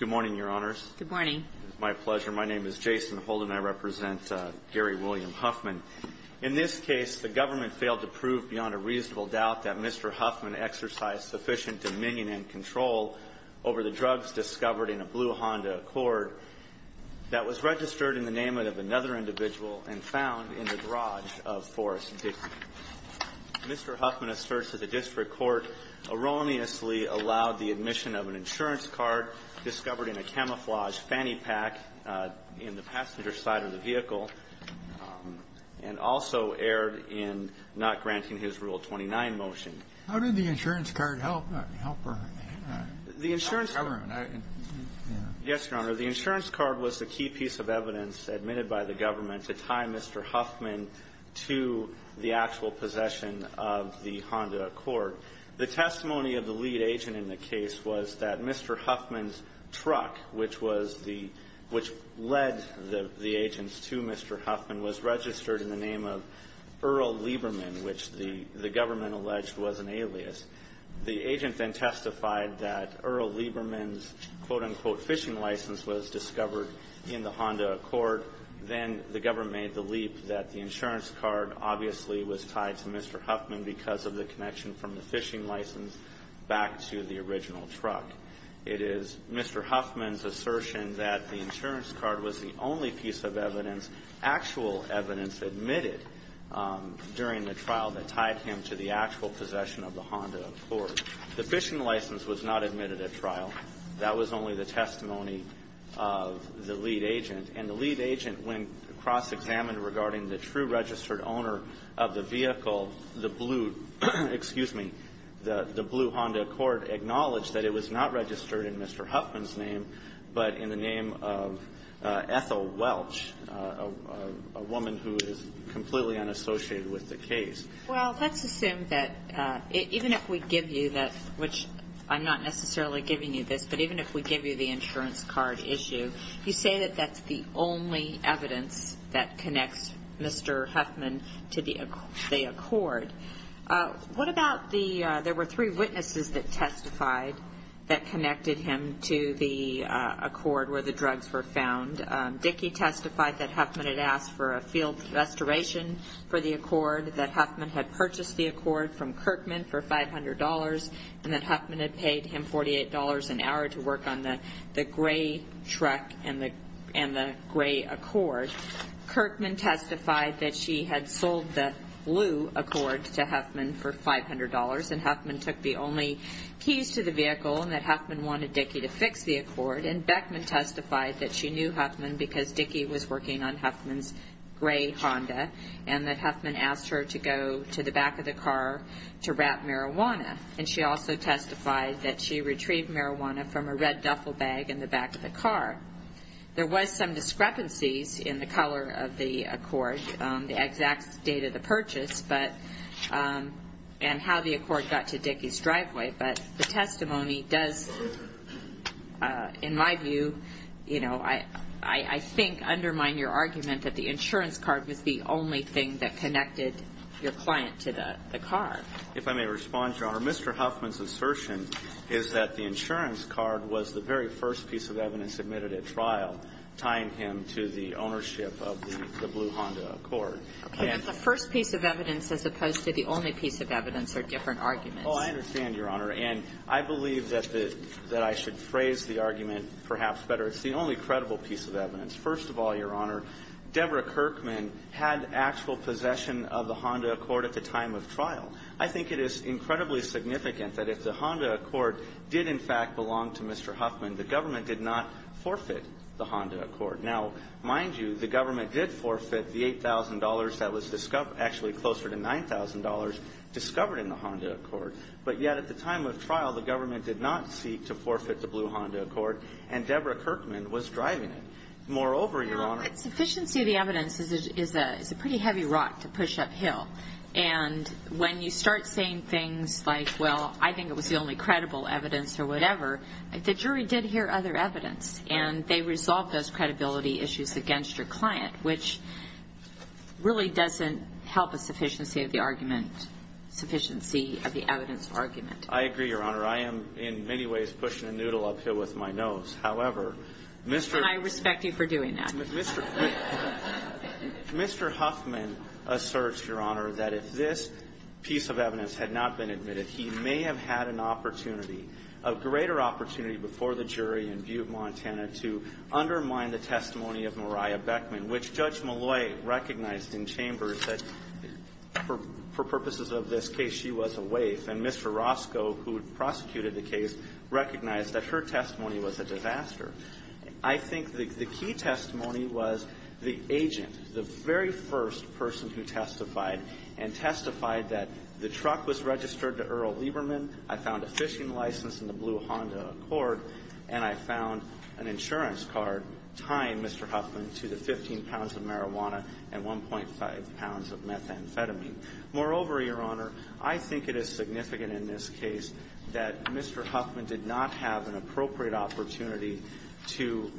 Good morning, your honors. Good morning. It is my pleasure. My name is Jason Holden. I represent Gary William Huffman. In this case, the government failed to prove beyond a reasonable doubt that Mr. Huffman exercised sufficient dominion and control over the drugs discovered in a blue Honda Accord that was registered in the name of another individual and found in the garage of Forest Dixie. Mr. Huffman asserts that the district court erroneously allowed the admission of an insurance card discovered in a camouflaged fanny pack in the passenger side of the vehicle and also erred in not granting his Rule 29 motion. How did the insurance card help? The insurance card was the key piece of evidence admitted by the government to tie Mr. Huffman to the actual possession of the Honda Accord. The testimony of the lead agent in the case was that Mr. Huffman's truck, which led the agents to Mr. Huffman, was registered in the name of Earl Lieberman, which the government alleged was an alias. The agent then testified that Earl Lieberman's quote-unquote fishing license was discovered in the Honda Accord. Then the government made the leap that the insurance card obviously was tied to Mr. Huffman because of the connection from the fishing license back to the original truck. It is Mr. Huffman's assertion that the insurance card was the only piece of evidence, actual evidence admitted during the trial that tied him to the actual possession of the Honda Accord. The fishing license was not admitted at trial. That was only the testimony of the lead agent. And the lead agent, when cross-examined regarding the true registered owner of the vehicle, the blue Honda Accord, acknowledged that it was not registered in Mr. Huffman's name but in the name of Ethel Welch, a woman who is completely unassociated with the case. Well, let's assume that even if we give you that, which I'm not necessarily giving you this, but even if we give you the insurance card issue, you say that that's the only evidence that connects Mr. Huffman to the Accord. There were three witnesses that testified that connected him to the Accord where the drugs were found. Dickey testified that Huffman had asked for a field restoration for the Accord, that Huffman had purchased the Accord from Kirkman for $500, and that Huffman had paid him $48 an hour to work on the gray truck and the gray Accord. Kirkman testified that she had sold the blue Accord to Huffman for $500, and Huffman took the only keys to the vehicle and that Huffman wanted Dickey to fix the Accord. And Beckman testified that she knew Huffman because Dickey was working on Huffman's gray Honda and that Huffman asked her to go to the back of the car to wrap marijuana. And she also testified that she retrieved marijuana from a red duffel bag in the back of the car. There was some discrepancies in the color of the Accord, the exact date of the purchase, and how the Accord got to Dickey's driveway, but the testimony does, in my view, I think undermine your argument that the insurance card was the only thing that connected your client to the car. If I may respond, Your Honor, Mr. Huffman's assertion is that the insurance card was the very first piece of evidence submitted at trial tying him to the ownership of the blue Honda Accord. Okay, but the first piece of evidence as opposed to the only piece of evidence are different arguments. Oh, I understand, Your Honor, and I believe that I should phrase the argument perhaps better. It's the only credible piece of evidence. First of all, Your Honor, Deborah Kirkman had actual possession of the Honda Accord at the time of trial. I think it is incredibly significant that if the Honda Accord did in fact belong to Mr. Huffman, the government did not forfeit the Honda Accord. Now, mind you, the government did forfeit the $8,000 that was actually closer to $9,000 discovered in the Honda Accord, but yet at the time of trial, the government did not seek to forfeit the blue Honda Accord, and Deborah Kirkman was driving it. Moreover, Your Honor, No, the sufficiency of the evidence is a pretty heavy rock to push uphill, and when you start saying things like, well, I think it was the only credible evidence or whatever, the jury did hear other evidence, and they resolved those credibility issues against your client, which really doesn't help a sufficiency of the argument, sufficiency of the evidence argument. I agree, Your Honor. I am in many ways pushing a noodle uphill with my nose. However, Mr. And I respect you for doing that. Mr. Huffman asserts, Your Honor, that if this piece of evidence had not been admitted, that he may have had an opportunity, a greater opportunity before the jury in view of Montana, to undermine the testimony of Mariah Beckman, which Judge Molloy recognized in chambers that for purposes of this case, she was a waif, and Mr. Roscoe, who prosecuted the case, recognized that her testimony was a disaster. I think the key testimony was the agent, the very first person who testified, and testified that the truck was registered to Earl Lieberman, I found a fishing license in the blue Honda Accord, and I found an insurance card tying Mr. Huffman to the 15 pounds of marijuana and 1.5 pounds of methamphetamine. Moreover, Your Honor, I think it is significant in this case that Mr. Huffman did not have an appropriate opportunity to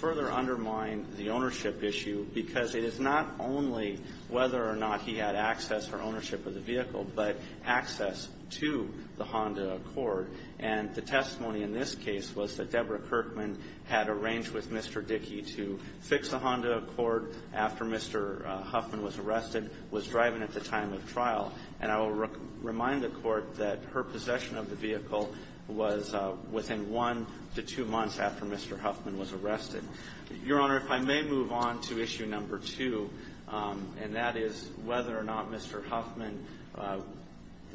further undermine the ownership issue, because it is not only whether or not he had access or ownership of the vehicle, but access to the Honda Accord. And the testimony in this case was that Deborah Kirkman had arranged with Mr. Dickey to fix the Honda Accord after Mr. Huffman was arrested, was driving at the time of trial. And I will remind the Court that her possession of the vehicle was within one to two months after Mr. Huffman was arrested. Your Honor, if I may move on to issue number two, and that is whether or not Mr. Huffman,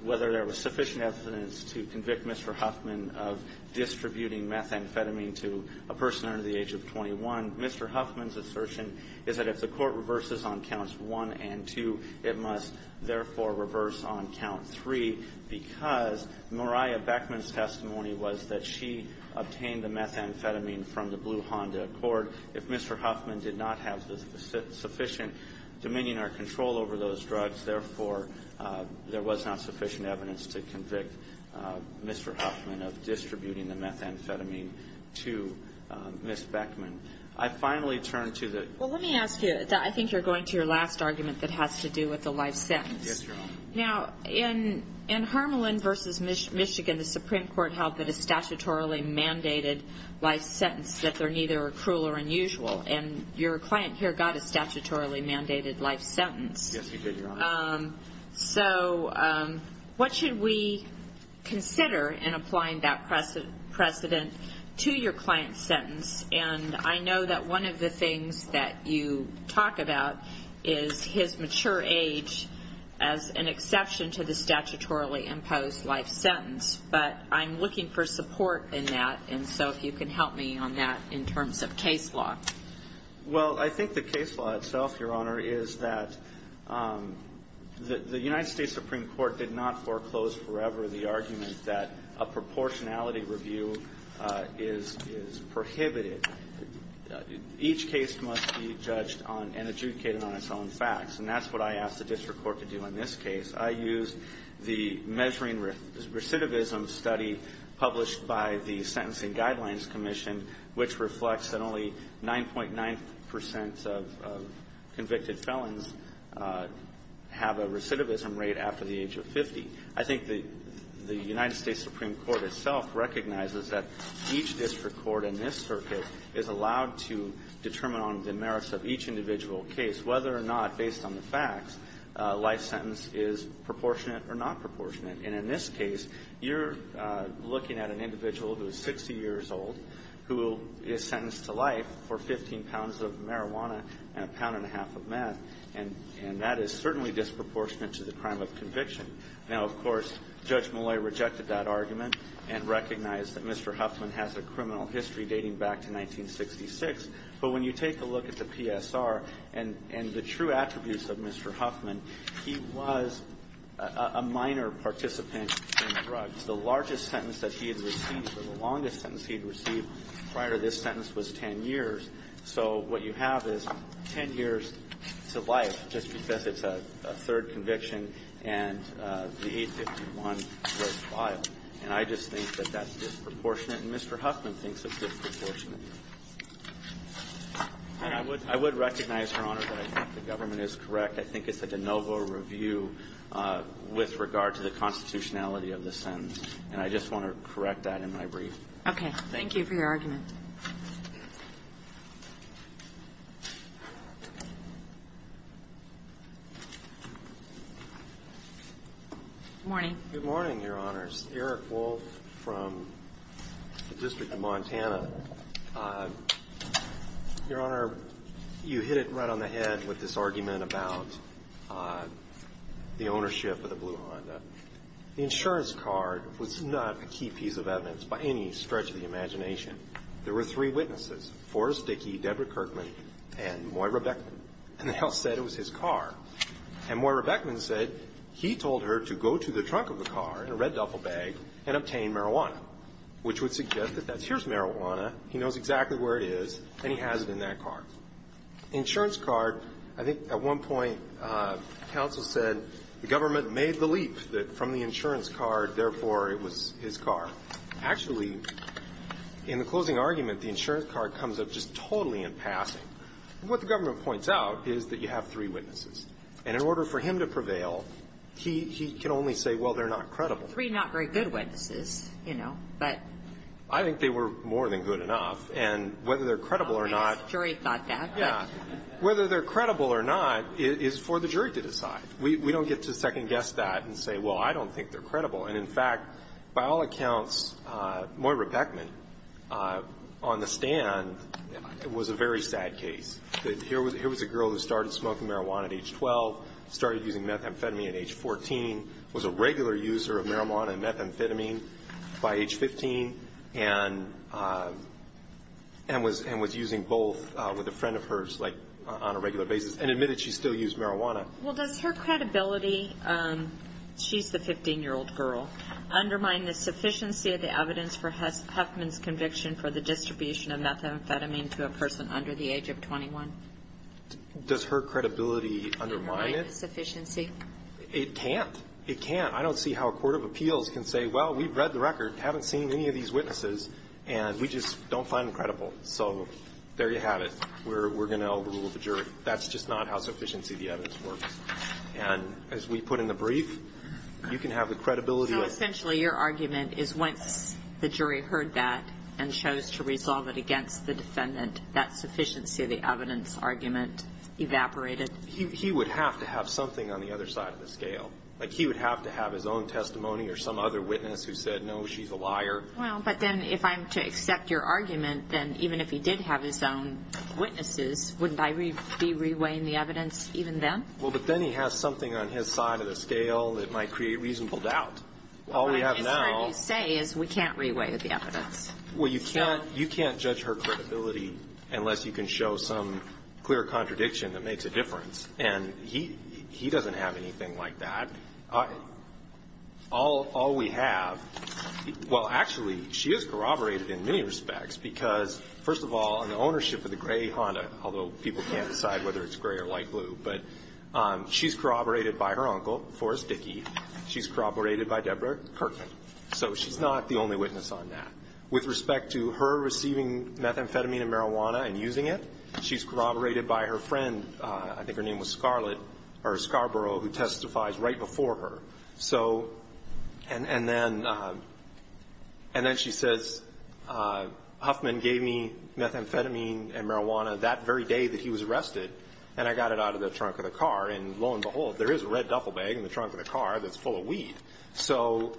whether there was sufficient evidence to convict Mr. Huffman of distributing methamphetamine to a person under the age of 21. Mr. Huffman's assertion is that if the Court reverses on counts 1 and 2, it must, therefore, reverse on count 3, because Mariah Beckman's testimony was that she obtained the methamphetamine from the blue Honda Accord. If Mr. Huffman did not have sufficient dominion or control over those drugs, therefore, there was not sufficient evidence to convict Mr. Huffman of distributing the methamphetamine to Ms. Beckman. I finally turn to the ---- Well, let me ask you, I think you're going to your last argument that has to do with the life sentence. Yes, Your Honor. Now, in Harmelin v. Michigan, the Supreme Court held that a statutorily mandated life sentence, that they're neither cruel or unusual, and your client here got a statutorily mandated life sentence. Yes, we did, Your Honor. So what should we consider in applying that precedent to your client's sentence? And I know that one of the things that you talk about is his mature age as an exception to the statutorily imposed life sentence, but I'm looking for support in that, and so if you can help me on that in terms of case law. Well, I think the case law itself, Your Honor, is that the United States Supreme Court did not foreclose forever the argument that a proportionality review is prohibited. Each case must be judged on and adjudicated on its own facts, and that's what I did in this case. I used the measuring recidivism study published by the Sentencing Guidelines Commission, which reflects that only 9.9 percent of convicted felons have a recidivism rate after the age of 50. I think the United States Supreme Court itself recognizes that each district court in this circuit is allowed to determine on the merits of each individual case whether or not, based on the facts, a life sentence is proportionate or not proportionate. And in this case, you're looking at an individual who is 60 years old who is sentenced to life for 15 pounds of marijuana and a pound and a half of meth, and that is certainly disproportionate to the crime of conviction. Now, of course, Judge Malloy rejected that argument and recognized that Mr. Huffman has a criminal history dating back to 1966, but when you take a look at the evidence and the true attributes of Mr. Huffman, he was a minor participant in drugs. The largest sentence that he had received or the longest sentence he had received prior to this sentence was 10 years, so what you have is 10 years to life just because it's a third conviction and the 851 was filed. And I just think that that's disproportionate, and Mr. Huffman thinks it's disproportionate. And I would recognize, Your Honor, that I think the government is correct. I think it's a de novo review with regard to the constitutionality of the sentence, and I just want to correct that in my brief. Okay. Thank you. Thank you for your argument. Good morning. Good morning, Your Honors. Eric Wolf from the District of Montana. Your Honor, you hit it right on the head with this argument about the ownership of the blue Honda. The insurance card was not a key piece of evidence by any stretch of the imagination. There were three witnesses, Forrest Dickey, Deborah Kirkman, and Moira Beckman, and they all said it was his car. And Moira Beckman said he told her to go to the trunk of the car in a red duffel bag and obtain marijuana, which would suggest that that's his marijuana, he knows exactly where it is, and he has it in that car. The insurance card, I think at one point counsel said the government made the leap that from the insurance card, therefore, it was his car. Actually, in the closing argument, the insurance card comes up just totally in passing. What the government points out is that you have three witnesses. And in order for him to prevail, he can only say, well, they're not credible. Three not very good witnesses, you know, but. I think they were more than good enough. And whether they're credible or not. The jury thought that. Yeah. Whether they're credible or not is for the jury to decide. We don't get to second guess that and say, well, I don't think they're credible. And, in fact, by all accounts, Moira Beckman on the stand was a very sad case. Here was a girl who started smoking marijuana at age 12, started using methamphetamine at age 14, was a regular user of marijuana and methamphetamine by age 15, and was using both with a friend of hers like on a regular basis, and admitted she still used marijuana. Well, does her credibility, she's the 15-year-old girl, undermine the sufficiency of the evidence for Huffman's conviction for the distribution of methamphetamine to a person under the age of 21? Does her credibility undermine it? Undermine the sufficiency? It can't. It can't. I don't see how a court of appeals can say, well, we've read the record, haven't seen any of these witnesses, and we just don't find them credible. So there you have it. We're going to overrule the jury. That's just not how sufficiency of the evidence works. And as we put in the brief, you can have the credibility of the jury. So essentially your argument is once the jury heard that and chose to resolve it against the defendant, that sufficiency of the evidence argument evaporated. He would have to have something on the other side of the scale. Like he would have to have his own testimony or some other witness who said, no, she's a liar. Well, but then if I'm to accept your argument, then even if he did have his own witnesses, wouldn't I be reweighing the evidence, even then? Well, but then he has something on his side of the scale that might create reasonable doubt. All we have now. But I guess what you say is we can't reweigh the evidence. Well, you can't judge her credibility unless you can show some clear contradiction that makes a difference. And he doesn't have anything like that. All we have, well, actually, she is corroborated in many respects because, first of all, in the ownership of the gray Honda, although people can't decide whether it's gray or light blue, but she's corroborated by her uncle, Forrest Dickey. She's corroborated by Deborah Kirkman. So she's not the only witness on that. With respect to her receiving methamphetamine and marijuana and using it, she's corroborated by her friend, I think her name was Scarlet, or Scarborough, who testifies right before her. And then she says, Huffman gave me methamphetamine and marijuana that very day that he was arrested, and I got it out of the trunk of the car. And lo and behold, there is a red duffel bag in the trunk of the car that's full of weed. So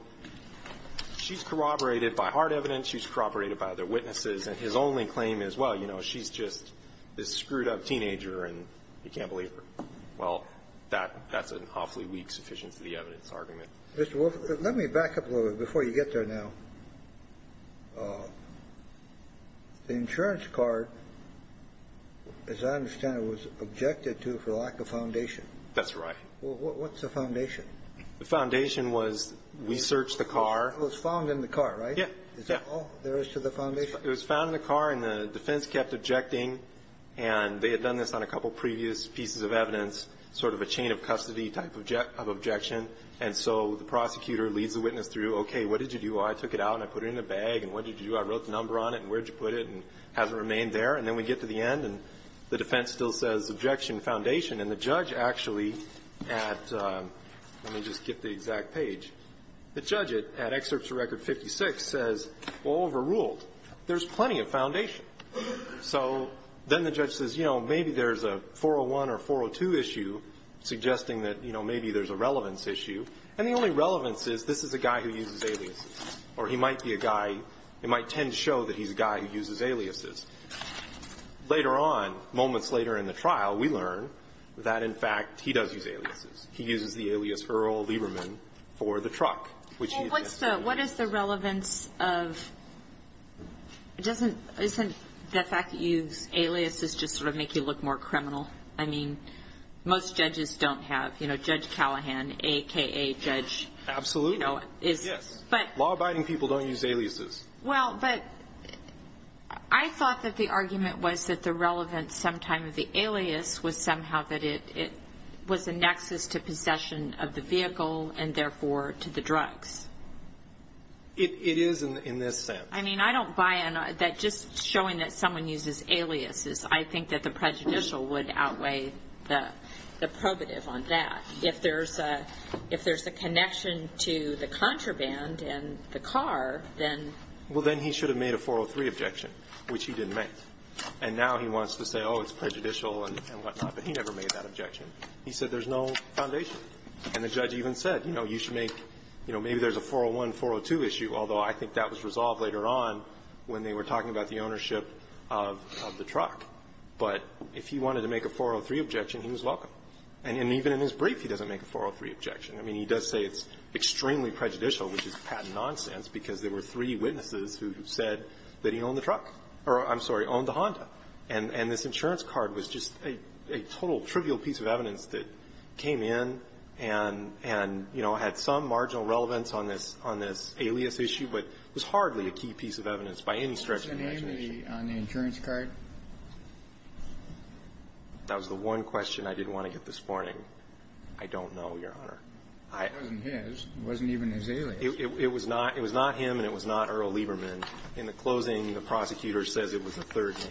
she's corroborated by hard evidence. She's corroborated by other witnesses. And his only claim is, well, you know, she's just this screwed-up teenager, and you can't believe her. Well, that's an awfully weak, sufficient-to-the-evidence argument. Mr. Wolf, let me back up a little bit before you get there now. The insurance card, as I understand it, was objected to for lack of foundation. That's right. What's the foundation? The foundation was we searched the car. It was found in the car, right? Yeah. Is that all there is to the foundation? It was found in the car, and the defense kept objecting. And they had done this on a couple previous pieces of evidence, sort of a chain-of-custody type of objection. And so the prosecutor leads the witness through, okay, what did you do? I took it out, and I put it in the bag, and what did you do? I wrote the number on it, and where did you put it? And has it remained there? And then we get to the end, and the defense still says, objection, foundation. And the judge actually at the exact page, the judge at Excerpts of Record 56 says, well, overruled. There's plenty of foundation. So then the judge says, you know, maybe there's a 401 or 402 issue, suggesting that, you know, maybe there's a relevance issue. And the only relevance is this is a guy who uses aliases. Or he might be a guy, it might tend to show that he's a guy who uses aliases. Later on, moments later in the trial, we learn that, in fact, he does use aliases. He uses the alias Earl Lieberman for the truck, which he's been using. What is the relevance of – isn't the fact that you use aliases just sort of make you look more criminal? I mean, most judges don't have, you know, Judge Callahan, a.k.a. Judge – Absolutely. Yes. Law-abiding people don't use aliases. Well, but I thought that the argument was that the relevance sometime of the alias was somehow that it was a nexus to possession of the vehicle and, therefore, to the drugs. It is in this sense. I mean, I don't buy that just showing that someone uses aliases. I think that the prejudicial would outweigh the probative on that. If there's a connection to the contraband and the car, then – Well, then he should have made a 403 objection, which he didn't make. And now he wants to say, oh, it's prejudicial and whatnot, but he never made that objection. He said there's no foundation. And the judge even said, you know, you should make – you know, maybe there's a 401, 402 issue, although I think that was resolved later on when they were talking about the ownership of the truck. But if he wanted to make a 403 objection, he was welcome. And even in his brief, he doesn't make a 403 objection. I mean, he does say it's extremely prejudicial, which is patent nonsense, because there were three witnesses who said that he owned the truck. Or, I'm sorry, owned the Honda. And this insurance card was just a total trivial piece of evidence that came in and, you know, had some marginal relevance on this alias issue, but was hardly a key piece of evidence by any stretch of the imagination. Was it Amy on the insurance card? That was the one question I didn't want to get this morning. I don't know, Your Honor. It wasn't his. It wasn't even his alias. It was not him, and it was not Earl Lieberman. In the closing, the prosecutor says it was a third name,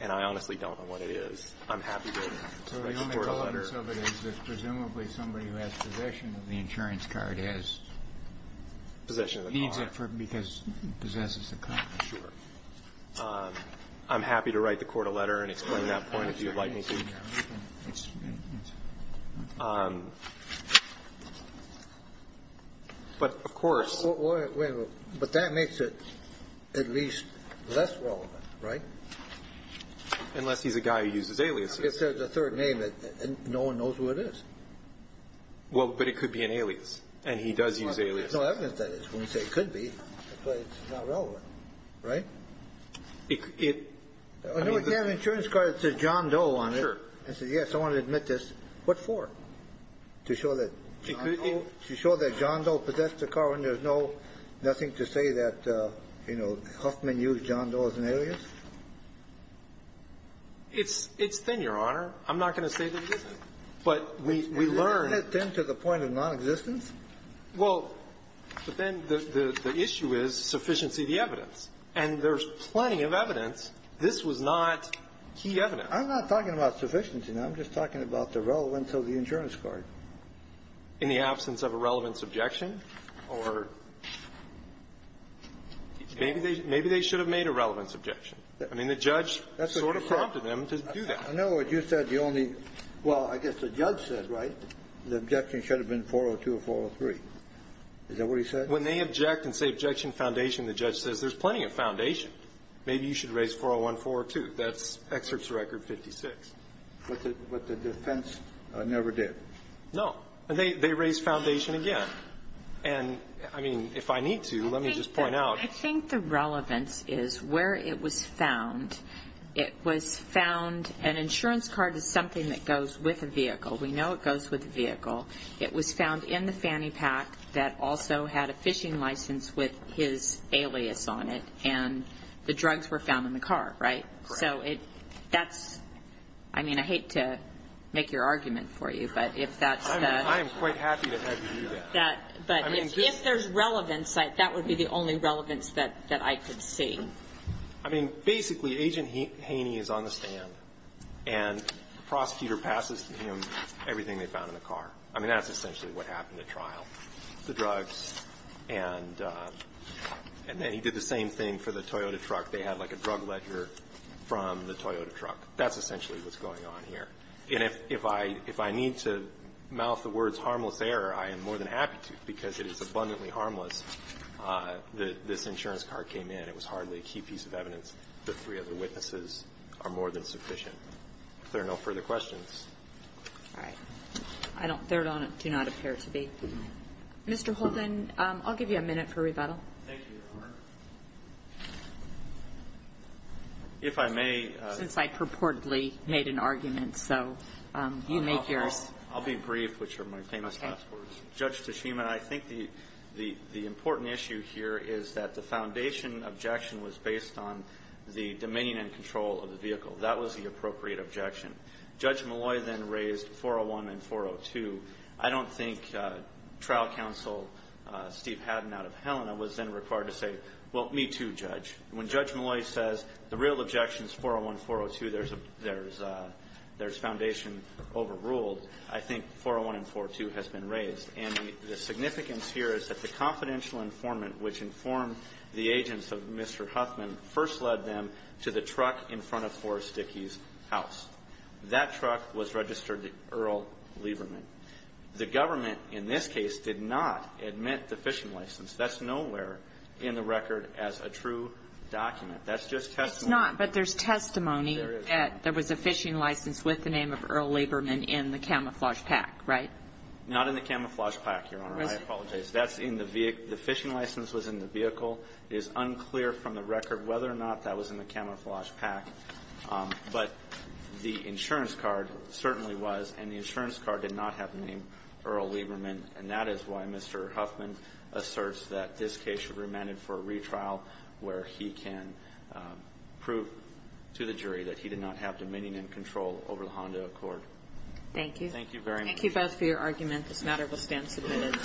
and I honestly don't know what it is. I'm happy to write the court a letter. So the only relevance of it is that presumably somebody who has possession of the insurance card has needs it because he possesses the car. Sure. I'm happy to write the court a letter and explain that point if you would like me to. But, of course. But that makes it at least less relevant, right? Unless he's a guy who uses aliases. If there's a third name, no one knows who it is. Well, but it could be an alias, and he does use aliases. No evidence that it could be, but it's not relevant. Right? If you have an insurance card that says John Doe on it and say, yes, I want to admit this, what for? To show that John Doe possessed the car when there's nothing to say that, you know, Huffman used John Doe as an alias? It's thin, Your Honor. I'm not going to say that it isn't. But we learn. Isn't it thin to the point of nonexistence? Well, but then the issue is sufficiency of the evidence. And there's plenty of evidence. This was not key evidence. I'm not talking about sufficiency. I'm just talking about the relevance of the insurance card. In the absence of a relevance objection? Or maybe they should have made a relevance objection. I mean, the judge sort of prompted them to do that. I know what you said. The only, well, I guess the judge said, right, the objection should have been 402 or 403. Is that what he said? When they object and say objection foundation, the judge says there's plenty of foundation. Maybe you should raise 401, 402. That's excerpts record 56. But the defense never did. No. They raised foundation again. And, I mean, if I need to, let me just point out. I think the relevance is where it was found. It was found, an insurance card is something that goes with a vehicle. We know it goes with a vehicle. It was found in the fanny pack that also had a fishing license with his alias on it. And the drugs were found in the car, right? Right. So that's, I mean, I hate to make your argument for you, but if that's the... I am quite happy to have you do that. But if there's relevance, that would be the only relevance that I could see. I mean, basically, Agent Haney is on the stand. And the prosecutor passes him everything they found in the car. I mean, that's essentially what happened at trial, the drugs. And then he did the same thing for the Toyota truck. They had, like, a drug ledger from the Toyota truck. That's essentially what's going on here. And if I need to mouth the words harmless error, I am more than happy to, because it is abundantly harmless. This insurance card came in. It was hardly a key piece of evidence. The three other witnesses are more than sufficient. If there are no further questions. All right. There do not appear to be. Mr. Holden, I'll give you a minute for rebuttal. Thank you, Your Honor. If I may... So you make yours. I'll be brief, which are my famous last words. Okay. Judge Tashima, I think the important issue here is that the foundation objection was based on the dominion and control of the vehicle. That was the appropriate objection. Judge Molloy then raised 401 and 402. I don't think trial counsel Steve Haddon out of Helena was then required to say, well, me too, Judge. When Judge Molloy says the real objection is 401, 402, there's foundation overruled. I think 401 and 402 has been raised. And the significance here is that the confidential informant, which informed the agents of Mr. Huffman, first led them to the truck in front of Forrest Dickey's house. That truck was registered to Earl Lieberman. The government, in this case, did not admit the fishing license. That's nowhere in the record as a true document. That's just testimony. It's not. But there's testimony that there was a fishing license with the name of Earl Lieberman in the camouflage pack, right? Not in the camouflage pack, Your Honor. I apologize. That's in the vehicle. The fishing license was in the vehicle. It is unclear from the record whether or not that was in the camouflage pack. But the insurance card certainly was, and the insurance card did not have the name Earl Lieberman. And that is why Mr. Huffman asserts that this case should be remanded for a retrial where he can prove to the jury that he did not have dominion and control over the Honda Accord. Thank you. Thank you very much. Thank you both for your argument. This matter will stand submitted.